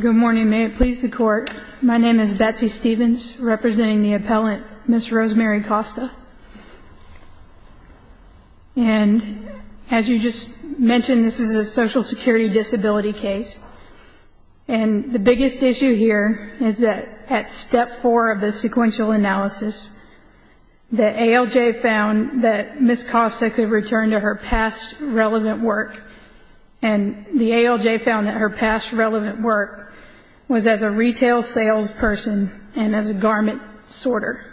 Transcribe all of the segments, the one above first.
Good morning, may it please the Court. My name is Betsy Stevens, representing the appellant Ms. Rosemary Costa. And as you just mentioned, this is a social security disability case. And the biggest issue here is that at step four of the sequential analysis, the ALJ found that Ms. Costa could return to her past relevant work, and the ALJ found that her past relevant work was as a retail salesperson and as a garment sorter.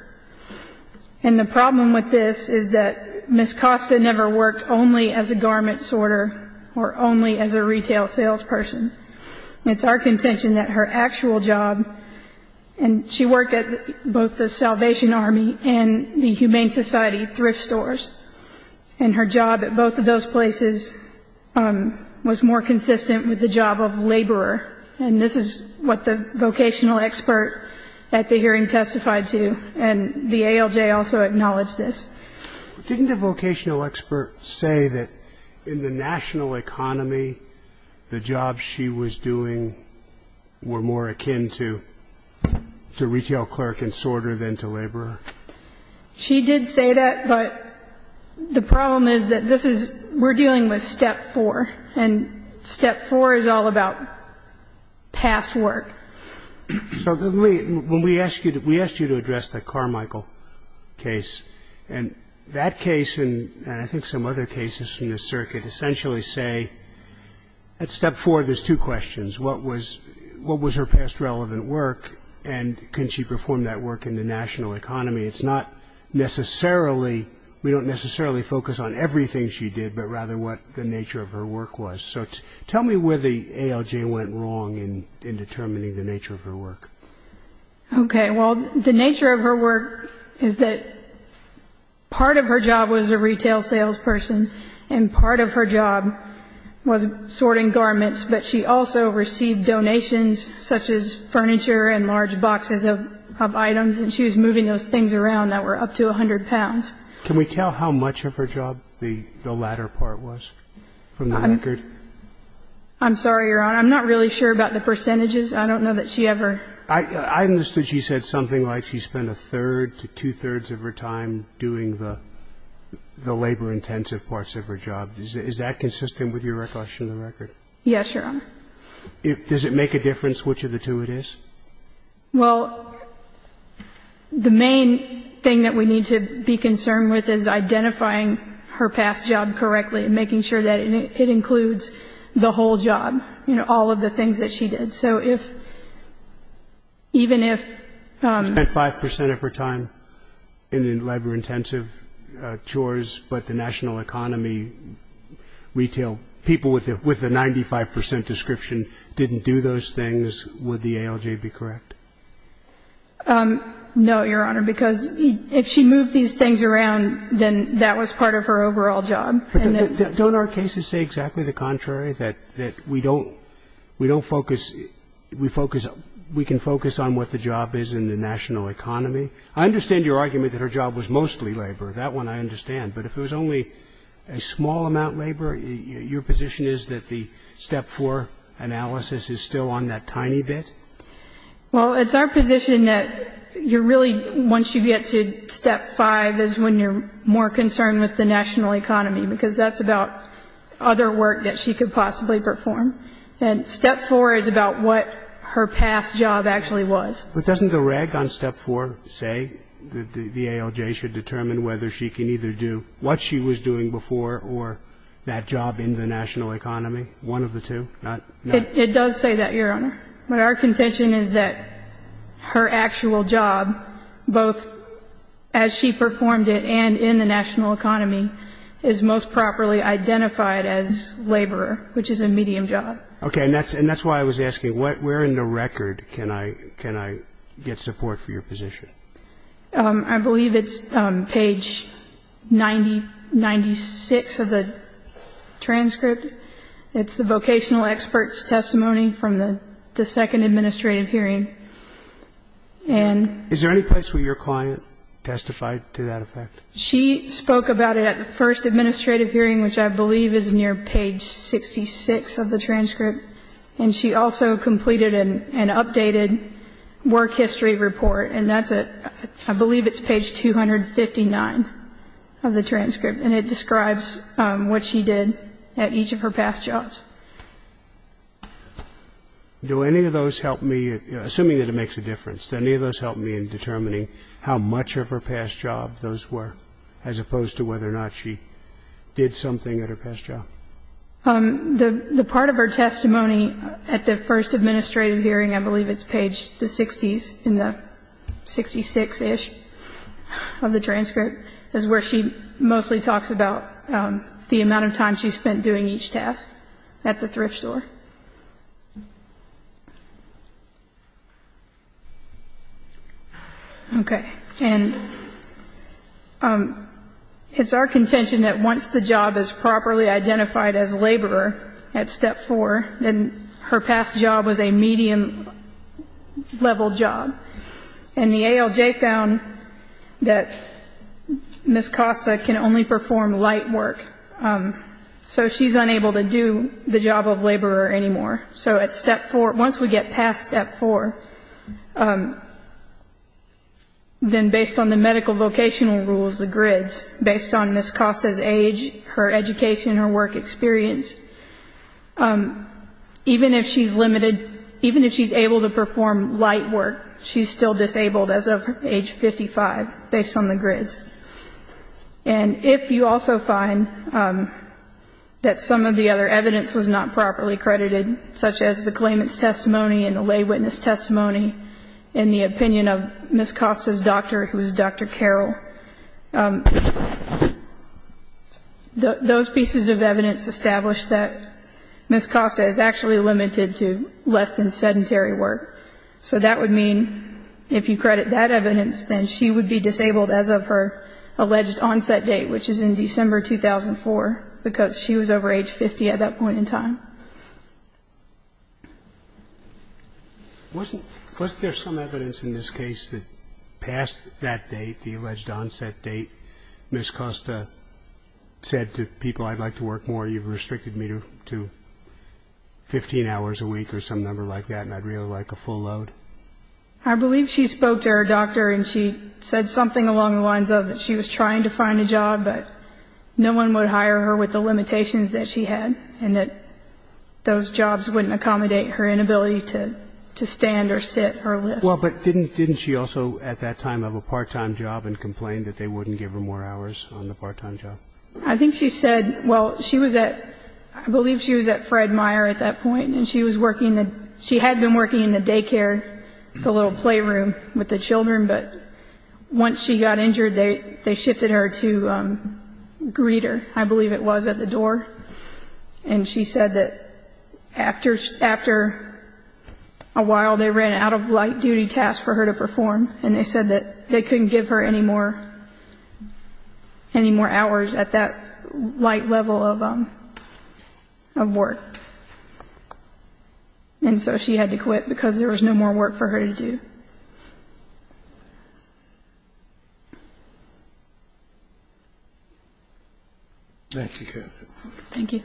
And the problem with this is that Ms. Costa never worked only as a garment sorter or only as a retail salesperson. It's our contention that her actual job, and she worked at both the Salvation Army and the Humane Society thrift stores, and her job at both of those places was more consistent with the job of laborer. And this is what the vocational expert at the hearing testified to, and the ALJ also acknowledged this. Didn't the vocational expert say that in the national economy, the jobs she was doing were more akin to retail clerk and sorter than to laborer? She did say that, but the problem is that this is we're dealing with step four, and step four is all about past work. So when we asked you to address the Carmichael case, and that case and I think some other cases from this circuit essentially say at step four there's two questions. What was her past relevant work, and can she perform that work in the national economy? It's not necessarily, we don't necessarily focus on everything she did, but rather what the nature of her work was. So tell me where the ALJ went wrong in determining the nature of her work. Okay. Well, the nature of her work is that part of her job was a retail salesperson, and part of her job was sorting garments, but she also received donations such as furniture and large boxes of items, and she was moving those things around that were up to 100 pounds. Can we tell how much of her job the latter part was from the record? I'm sorry, Your Honor. I'm not really sure about the percentages. I don't know that she ever. I understood she said something like she spent a third to two-thirds of her time doing the labor-intensive parts of her job. Is that consistent with your question on the record? Yes, Your Honor. Does it make a difference which of the two it is? Well, the main thing that we need to be concerned with is identifying her past job correctly and making sure that it includes the whole job, you know, all of the things that she did. So if, even if ---- She spent 5 percent of her time in the labor-intensive chores, but the national economy retail people with the 95 percent description didn't do those things, would the ALJ be correct? No, Your Honor, because if she moved these things around, then that was part of her overall job. But don't our cases say exactly the contrary, that we don't ---- we don't focus ---- we focus ---- we can focus on what the job is in the national economy? I understand your argument that her job was mostly labor. That one I understand. But if it was only a small amount of labor, your position is that the Step 4 analysis is still on that tiny bit? Well, it's our position that you're really ---- once you get to Step 5 is when you're more concerned with the national economy, because that's about other work that she could possibly perform. And Step 4 is about what her past job actually was. But doesn't the reg on Step 4 say that the ALJ should determine whether she can either do what she was doing before or that job in the national economy, one of the two? It does say that, Your Honor. But our contention is that her actual job, both as she performed it and in the national economy, is most properly identified as laborer, which is a medium job. Okay. And that's why I was asking, where in the record can I get support for your position? I believe it's page 90, 96 of the transcript. It's the vocational expert's testimony from the second administrative hearing. And ---- Is there any place where your client testified to that effect? She spoke about it at the first administrative hearing, which I believe is near page 66 of the transcript. And she also completed an updated work history report. And that's at ---- I believe it's page 259 of the transcript. And it describes what she did at each of her past jobs. Do any of those help me, assuming that it makes a difference, do any of those help me in determining how much of her past job those were as opposed to whether or not she did something at her past job? The part of her testimony at the first administrative hearing, I believe it's page 60, in the 66-ish of the transcript, is where she mostly talks about the amount of time she spent doing each task at the thrift store. Okay. And it's our contention that once the job is properly identified as laborer at step 4, then her past job was a medium-level job. And the ALJ found that Ms. Costa can only perform light work. So she's unable to do the job of laborer anymore. So at step 4, once we get past step 4, then based on the medical vocational rules, the grids, based on Ms. Costa's age, her education, her work experience, even if she's limited, even if she's able to perform light work, she's still disabled as of age 55, based on the grids. And if you also find that some of the other evidence was not properly credited, such as the claimant's testimony and the lay witness testimony and the opinion of Ms. Costa's doctor, who is Dr. Carroll, those pieces of evidence establish that Ms. Costa is actually limited to less than sedentary work. So that would mean if you credit that evidence, then she would be disabled as of her alleged onset date, which is in December 2004, because she was over age 50 at that point in time. Was there some evidence in this case that past that date, the alleged onset date, Ms. Costa said to people, I'd like to work more, you've restricted me to 15 hours a week or some number like that, and I'd really like a full load? I believe she spoke to her doctor, and she said something along the lines of that she was trying to find a job, but no one would hire her with the limitations that she had, and that those jobs wouldn't accommodate her inability to work. So I think she said that to stand or sit or lift. Well, but didn't she also at that time have a part-time job and complained that they wouldn't give her more hours on the part-time job? I think she said, well, she was at, I believe she was at Fred Meyer at that point, and she was working, she had been working in the daycare, the little playroom with the children, but once she got injured, they shifted her to Greeter, I believe it was, at the door. And she said that after a while they ran an out-of-light-duty task for her to perform, and they said that they couldn't give her any more hours at that light level of work. And so she had to quit because there was no more work for her to do. Thank you, counsel. Thank you.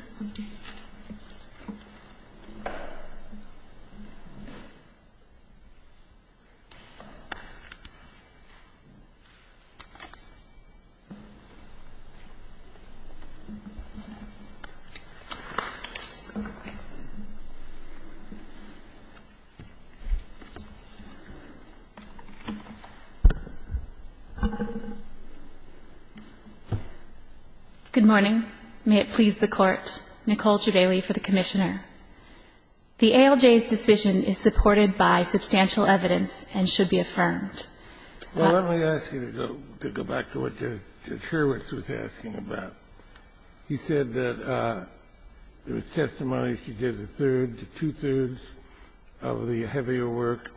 Good morning. May it please the Court. Nicole Trevely for the Commissioner. The ALJ's decision is supported by substantial evidence and should be affirmed. Well, let me ask you to go back to what Mr. Sherwitz was asking about. He said that there was testimony she did a third, two-thirds of the heavier work,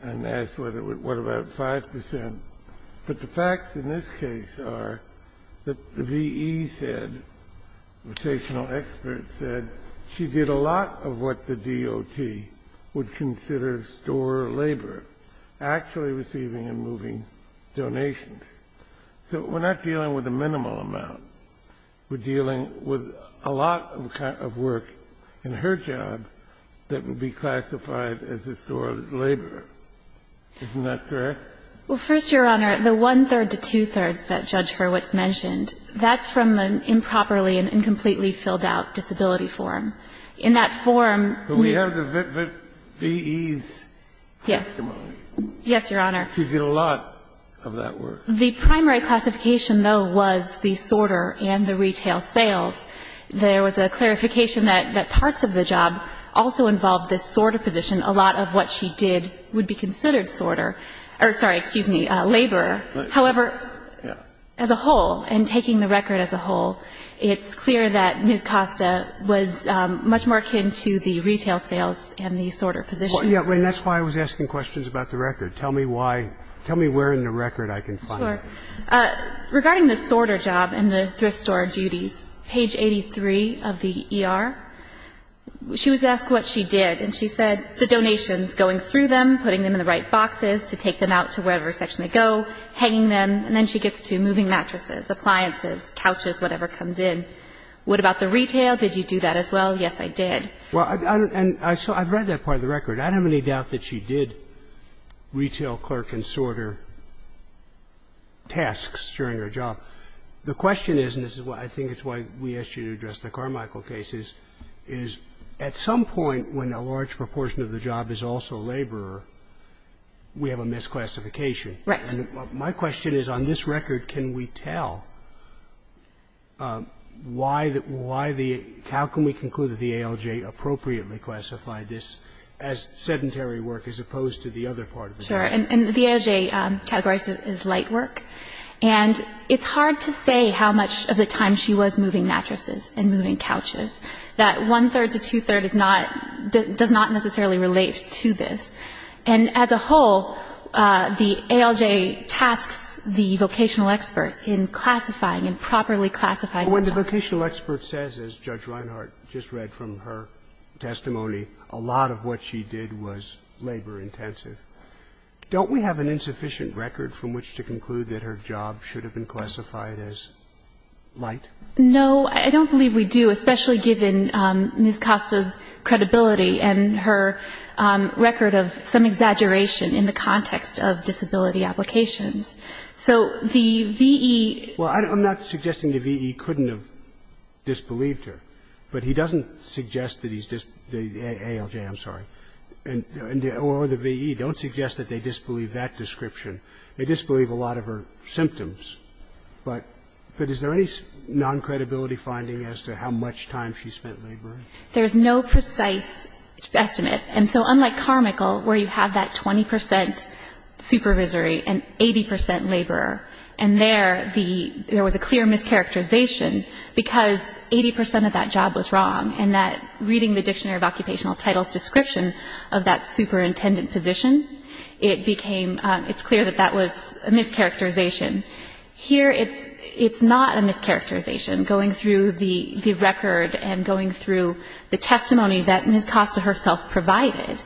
and asked what about 5 percent. But the facts in this case are that the V.E. said, rotational expert said, she did a lot of what the DOT would consider store labor, actually receiving and moving donations. So we're not dealing with a minimal amount. We're dealing with a lot of work in her job that would be classified as a store labor. Isn't that correct? Well, first, Your Honor, the one-third to two-thirds that Judge Herwitz mentioned, that's from an improperly and incompletely filled-out disability form. In that form we have the V.E.'s testimony. Yes, Your Honor. She did a lot of that work. The primary classification, though, was the sorter and the retail sales. There was a clarification that parts of the job also involved this sorter position. A lot of what she did would be considered sorter or, sorry, excuse me, laborer. However, as a whole, and taking the record as a whole, it's clear that Ms. Costa was much more akin to the retail sales and the sorter position. I'm going to ask you a question about the sorter. Tell me why. Tell me where in the record I can find that. Sure. Regarding the sorter job and the thrift store duties, page 83 of the E.R., she was asked what she did. And she said the donations, going through them, putting them in the right boxes to take them out to wherever section they go, hanging them, and then she gets to moving mattresses, appliances, couches, whatever comes in. What about the retail? Did you do that as well? Yes, I did. Well, and I've read that part of the record. I don't have any doubt that she did retail clerk and sorter tasks during her job. The question is, and this is why I think it's why we asked you to address the Carmichael cases, is at some point when a large proportion of the job is also laborer, we have a misclassification. Right. My question is, on this record, can we tell why the – how can we conclude that the ALJ appropriately classified this as sedentary work as opposed to the other part of the record? Sure. And the ALJ categorizes it as light work. And it's hard to say how much of the time she was moving mattresses and moving couches. That one-third to two-third is not – does not necessarily relate to this. And as a whole, the ALJ tasks the vocational expert in classifying and properly classifying the job. But when the vocational expert says, as Judge Reinhart just read from her testimony, a lot of what she did was labor-intensive, don't we have an insufficient record from which to conclude that her job should have been classified as light? No, I don't believe we do, especially given Ms. Costa's credibility and her record of some exaggeration in the context of disability applications. So the V.E. Well, I'm not suggesting the V.E. couldn't have disbelieved her. But he doesn't suggest that he's – the ALJ, I'm sorry, or the V.E. don't suggest that they disbelieve that description. They disbelieve a lot of her symptoms. But is there any non-credibility finding as to how much time she spent laboring? There's no precise estimate. And so unlike Carmichael, where you have that 20 percent supervisory and 80 percent laborer, and there the – there was a clear mischaracterization because 80 percent of that job was wrong, and that reading the Dictionary of Occupational Titles description of that superintendent position, it became – it's clear that that was a mischaracterization. Here it's not a mischaracterization. Going through the record and going through the testimony that Ms. Costa herself provided,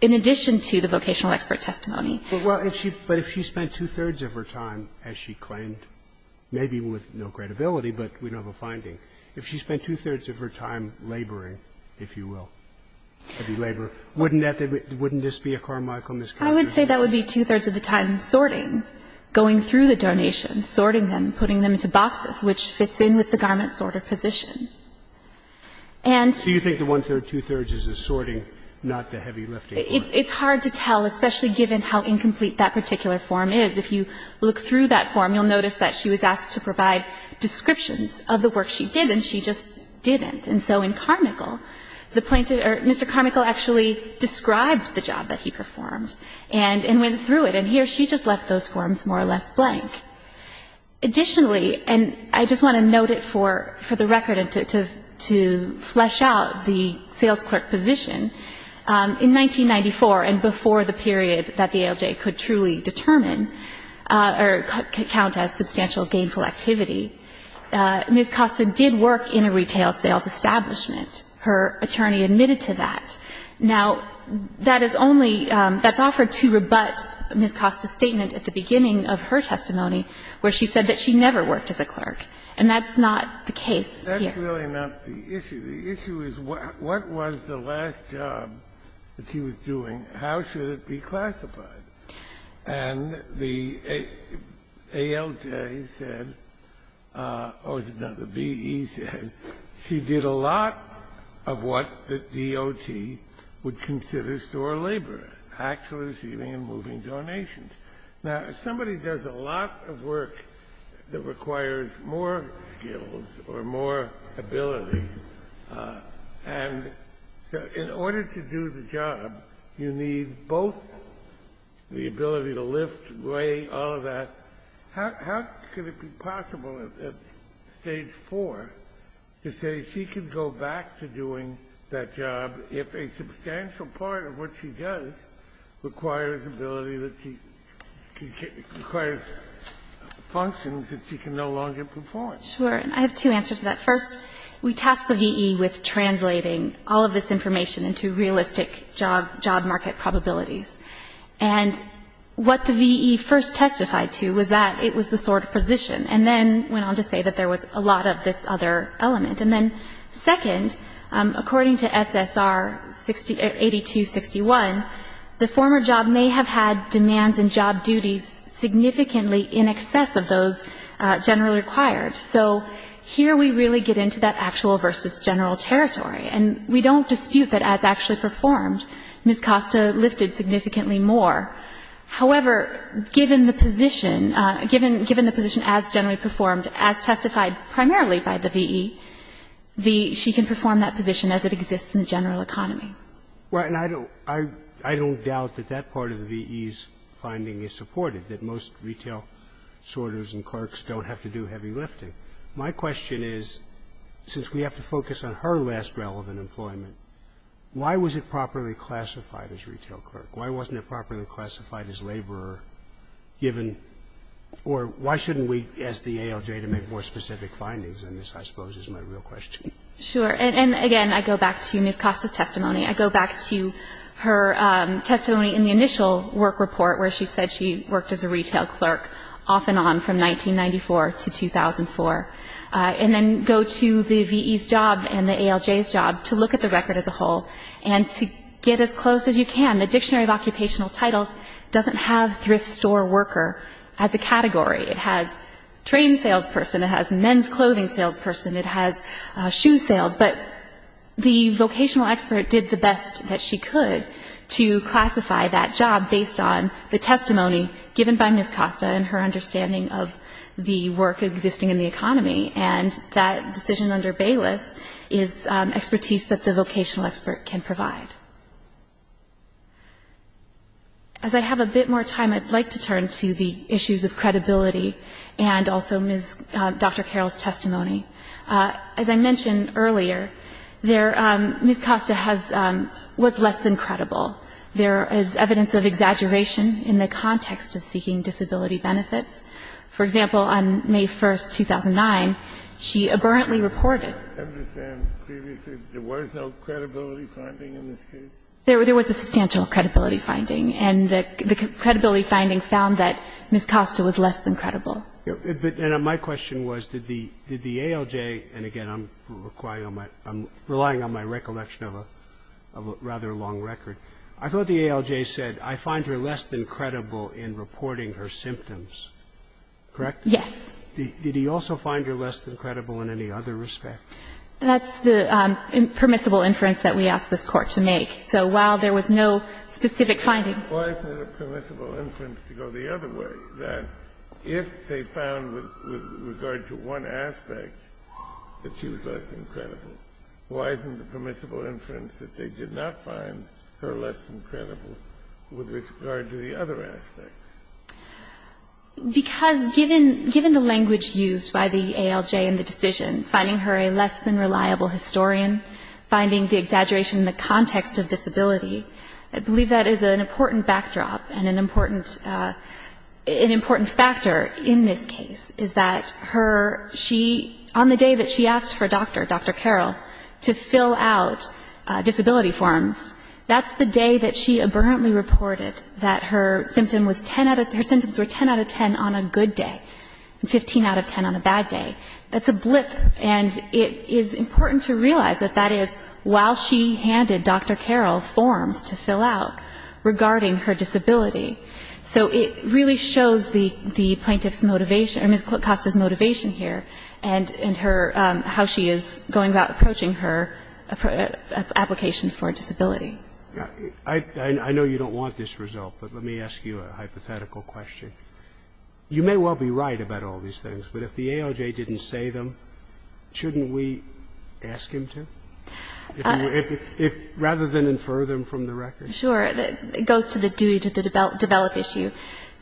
in addition to the vocational expert testimony. Well, if she – but if she spent two-thirds of her time, as she claimed, maybe with no credibility, but we don't have a finding, if she spent two-thirds of her time laboring, if you will, heavy labor, wouldn't that – wouldn't this be a Carmichael mischaracterization? I would say that would be two-thirds of the time sorting, going through the donations, sorting them, putting them into boxes, which fits in with the garment-sorter position. And so you think the one-third, two-thirds is the sorting, not the heavy lifting part? It's hard to tell, especially given how incomplete that particular form is. If you look through that form, you'll notice that she was asked to provide descriptions of the work she did, and she just didn't. And so in Carmichael, the plaintiff – or Mr. Carmichael actually described the job that he performed and went through it. And here she just left those forms more or less blank. Additionally, and I just want to note it for the record and to flesh out the sales clerk position, in 1994 and before the period that the ALJ could truly determine or count as substantial gainful activity, Ms. Costa did work in a retail sales establishment. Her attorney admitted to that. Now, that is only – that's offered to rebut Ms. Costa's statement at the beginning of her testimony. She said that she never worked as a clerk. And that's not the case here. That's really not the issue. The issue is what was the last job that she was doing? How should it be classified? And the ALJ said – oh, is it not? The VE said she did a lot of what the DOT would consider store labor, actually receiving and moving donations. Now, somebody does a lot of work that requires more skills or more ability. And in order to do the job, you need both the ability to lift, weigh, all of that. How could it be possible at Stage 4 to say she can go back to doing that job if a job requires functions that she can no longer perform? Sure. And I have two answers to that. First, we tasked the VE with translating all of this information into realistic job market probabilities. And what the VE first testified to was that it was the sort of position, and then went on to say that there was a lot of this other element. And then, second, according to SSR 8261, the former job may have had demands and job duties significantly in excess of those generally required. So here we really get into that actual versus general territory. And we don't dispute that as actually performed, Ms. Costa lifted significantly more. However, given the position, given the position as generally performed, as testified primarily by the VE, the – she can perform that position as it exists in the general economy. Well, and I don't – I don't doubt that that part of the VE's finding is supported, that most retail sorters and clerks don't have to do heavy lifting. My question is, since we have to focus on her last relevant employment, why was it properly classified as retail clerk? Why wasn't it properly classified as laborer, given – or why shouldn't we ask the ALJ to make more specific findings? And this, I suppose, is my real question. And again, I go back to Ms. Costa's testimony. I go back to her testimony in the initial work report where she said she worked as a retail clerk off and on from 1994 to 2004. And then go to the VE's job and the ALJ's job to look at the record as a whole and to get as close as you can. The Dictionary of Occupational Titles doesn't have thrift store worker as a category. It has train salesperson. It has men's clothing salesperson. It has shoe sales. But the vocational expert did the best that she could to classify that job based on the testimony given by Ms. Costa and her understanding of the work existing in the economy. And that decision under Bayless is expertise that the vocational expert can provide. As I have a bit more time, I'd like to turn to the issues of credibility and also Dr. Carroll's testimony. As I mentioned earlier, Ms. Costa was less than credible. There is evidence of exaggeration in the context of seeking disability benefits. For example, on May 1, 2009, she aberrantly reported. There was no credibility finding in this case? There was a substantial credibility finding. And the credibility finding found that Ms. Costa was less than credible. And my question was, did the ALJ, and again, I'm relying on my recollection of a rather long record. I thought the ALJ said, I find her less than credible in reporting her symptoms. Correct? Yes. Did he also find her less than credible in any other respect? That's the permissible inference that we asked this Court to make. So while there was no specific finding. Why isn't it a permissible inference to go the other way, that if they found with regard to one aspect that she was less than credible, why isn't the permissible inference that they did not find her less than credible with regard to the other aspects? Because given the language used by the ALJ in the decision, finding her a less than reliable historian, finding the exaggeration in the context of disability, I believe that is an important backdrop and an important, an important factor in this case, is that her, she, on the day that she asked her doctor, Dr. Carroll, to fill out disability forms, that's the day that she aburrently reported that her symptom was 10 out of, her symptoms were 10 out of 10 on a good day, 15 out of 10 on a bad day. That's a blip. And it is important to realize that that is while she handed Dr. Carroll forms to fill out regarding her disability. So it really shows the plaintiff's motivation, or Ms. Kosta's motivation here and her, how she is going about approaching her application for disability. Roberts. I know you don't want this result, but let me ask you a hypothetical question. You may well be right about all these things, but if the ALJ didn't say them, shouldn't we ask him to? Rather than infer them from the record. Sure. It goes to the dewey, to the develop issue.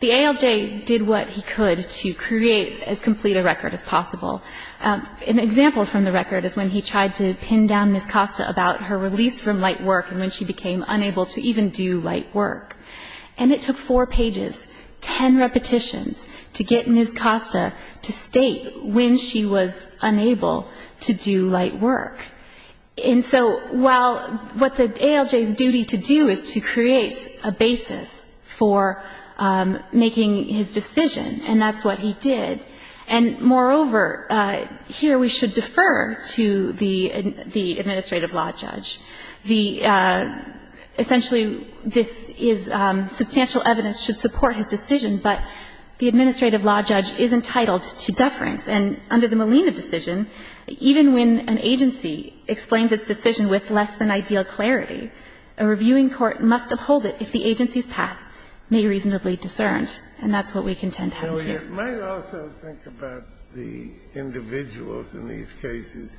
The ALJ did what he could to create as complete a record as possible. An example from the record is when he tried to pin down Ms. Kosta about her release from light work and when she became unable to even do light work. And it took four pages, 10 repetitions to get Ms. Kosta to state when she was unable to do light work. And so while what the ALJ's duty to do is to create a basis for making his decision, and that's what he did, and moreover, here we should defer to the administrative law judge. The – essentially, this is substantial evidence should support his decision, but the administrative law judge is entitled to deference. And under the Molina decision, even when an agency explains its decision with less than ideal clarity, a reviewing court must uphold it if the agency's path may be reasonably discerned, and that's what we contend has here. It might also think about the individuals in these cases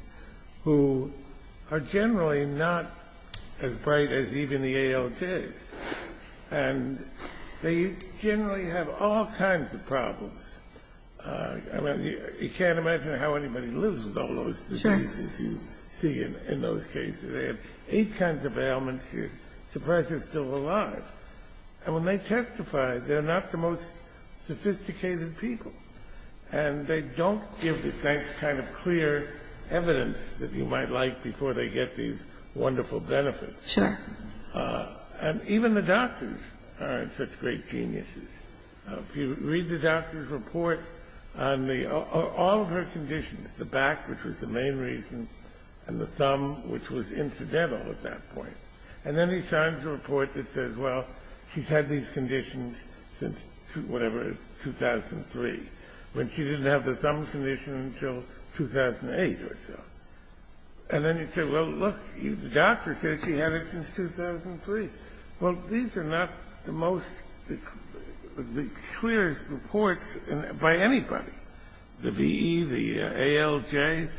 who are generally not as bright as even the ALJs, and they generally have all kinds of problems. I mean, you can't imagine how anybody lives with all those diseases you see in those cases. They have eight kinds of ailments. You're surprised they're still alive. And when they testify, they're not the most sophisticated people, and they don't give the kind of clear evidence that you might like before they get these wonderful benefits. And even the doctors aren't such great geniuses. If you read the doctor's report on the – all of her conditions, the back, which was the main reason, and the thumb, which was incidental at that point, and then he signs a report that says, well, she's had these conditions since whatever, 2003, when she didn't have the thumb condition until 2008 or so. And then you say, well, look, the doctor said she had it since 2003. Well, these are not the most – the clearest reports by anybody, the VE, the ALJ,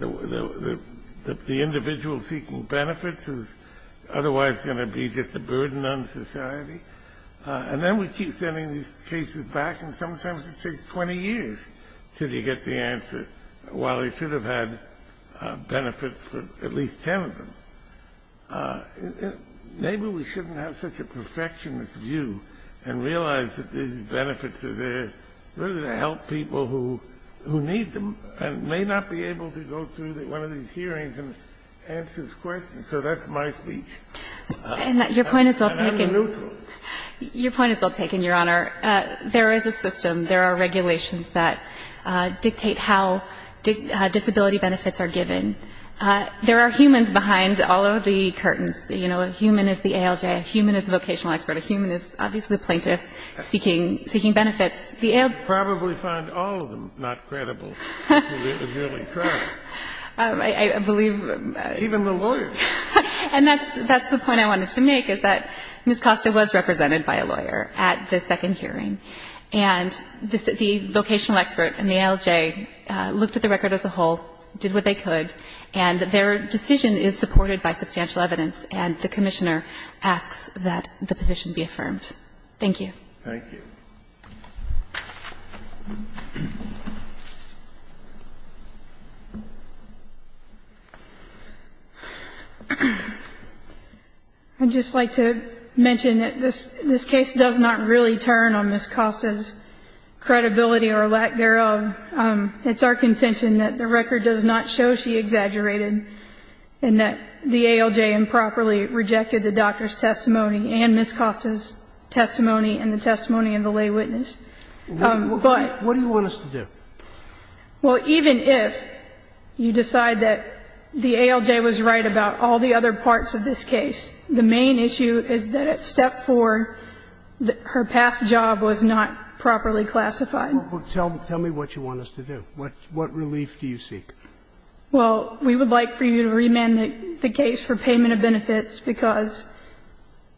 the individual seeking benefits who's otherwise going to be just a burden on society. And then we keep sending these cases back, and sometimes it takes 20 years until you get the answer, while they should have had benefits for at least 10 of them. Maybe we shouldn't have such a perfectionist view and realize that these benefits are really to help people who need them and may not be able to go through one of these hearings and answer questions. So that's my speech. And I'm neutral. Your point is well taken, Your Honor. There is a system. There are regulations that dictate how disability benefits are given. There are humans behind all of the curtains. You know, a human is the ALJ. A human is a vocational expert. A human is obviously a plaintiff seeking benefits. The ALJ – You probably find all of them not credible, if you really try. I believe – Even the lawyers. And that's the point I wanted to make, is that Ms. Costa was represented by a lawyer at the second hearing. And the vocational expert and the ALJ looked at the record as a whole, did what they could, and their decision is supported by substantial evidence. And the Commissioner asks that the position be affirmed. Thank you. Thank you. I'd just like to mention that this case does not really turn on Ms. Costa's credibility or lack thereof. It's our contention that the record does not show she exaggerated and that the ALJ improperly rejected the doctor's testimony and Ms. Costa's testimony and the testimony of the lay witness. But – What do you want us to do? Well, even if you decide that the ALJ was right about all the other parts of this case, the main issue is that at Step 4, her past job was not properly classified. Tell me what you want us to do. What relief do you seek? Well, we would like for you to remand the case for payment of benefits, because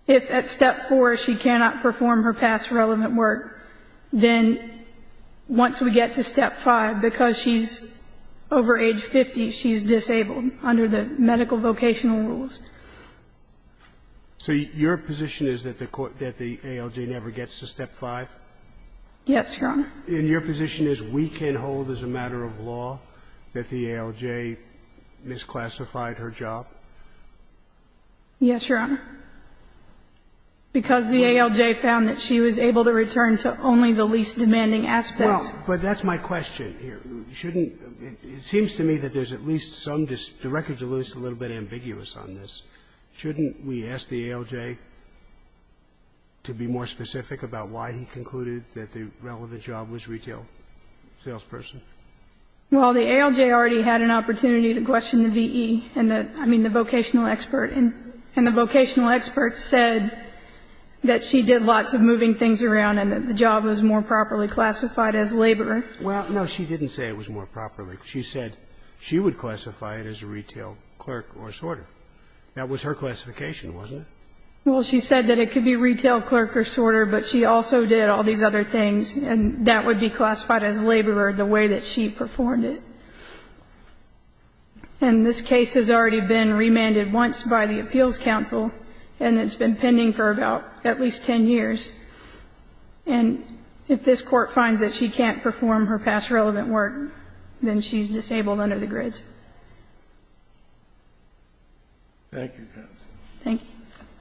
if at Step 4 she cannot perform her past relevant work, then once we get to Step 5, because she's over age 50, she's disabled under the medical vocational rules. So your position is that the ALJ never gets to Step 5? Yes, Your Honor. And your position is we can hold as a matter of law that the ALJ misclassified her job? Yes, Your Honor. Because the ALJ found that she was able to return to only the least demanding aspects. Well, but that's my question here. Shouldn't – it seems to me that there's at least some – the record's at least a little bit ambiguous on this. Shouldn't we ask the ALJ to be more specific about why he concluded that the relevant job was retail salesperson? Well, the ALJ already had an opportunity to question the V.E. and the – I mean, the vocational expert. And the vocational expert said that she did lots of moving things around and that the job was more properly classified as labor. Well, no, she didn't say it was more properly. She said she would classify it as a retail clerk or a sorter. That was her classification, wasn't it? Well, she said that it could be retail clerk or sorter, but she also did all these other things, and that would be classified as laborer the way that she performed it. And this case has already been remanded once by the Appeals Council, and it's been pending for about at least 10 years. And if this Court finds that she can't perform her past relevant work, then she's disabled under the grids. Thank you, counsel. Thank you.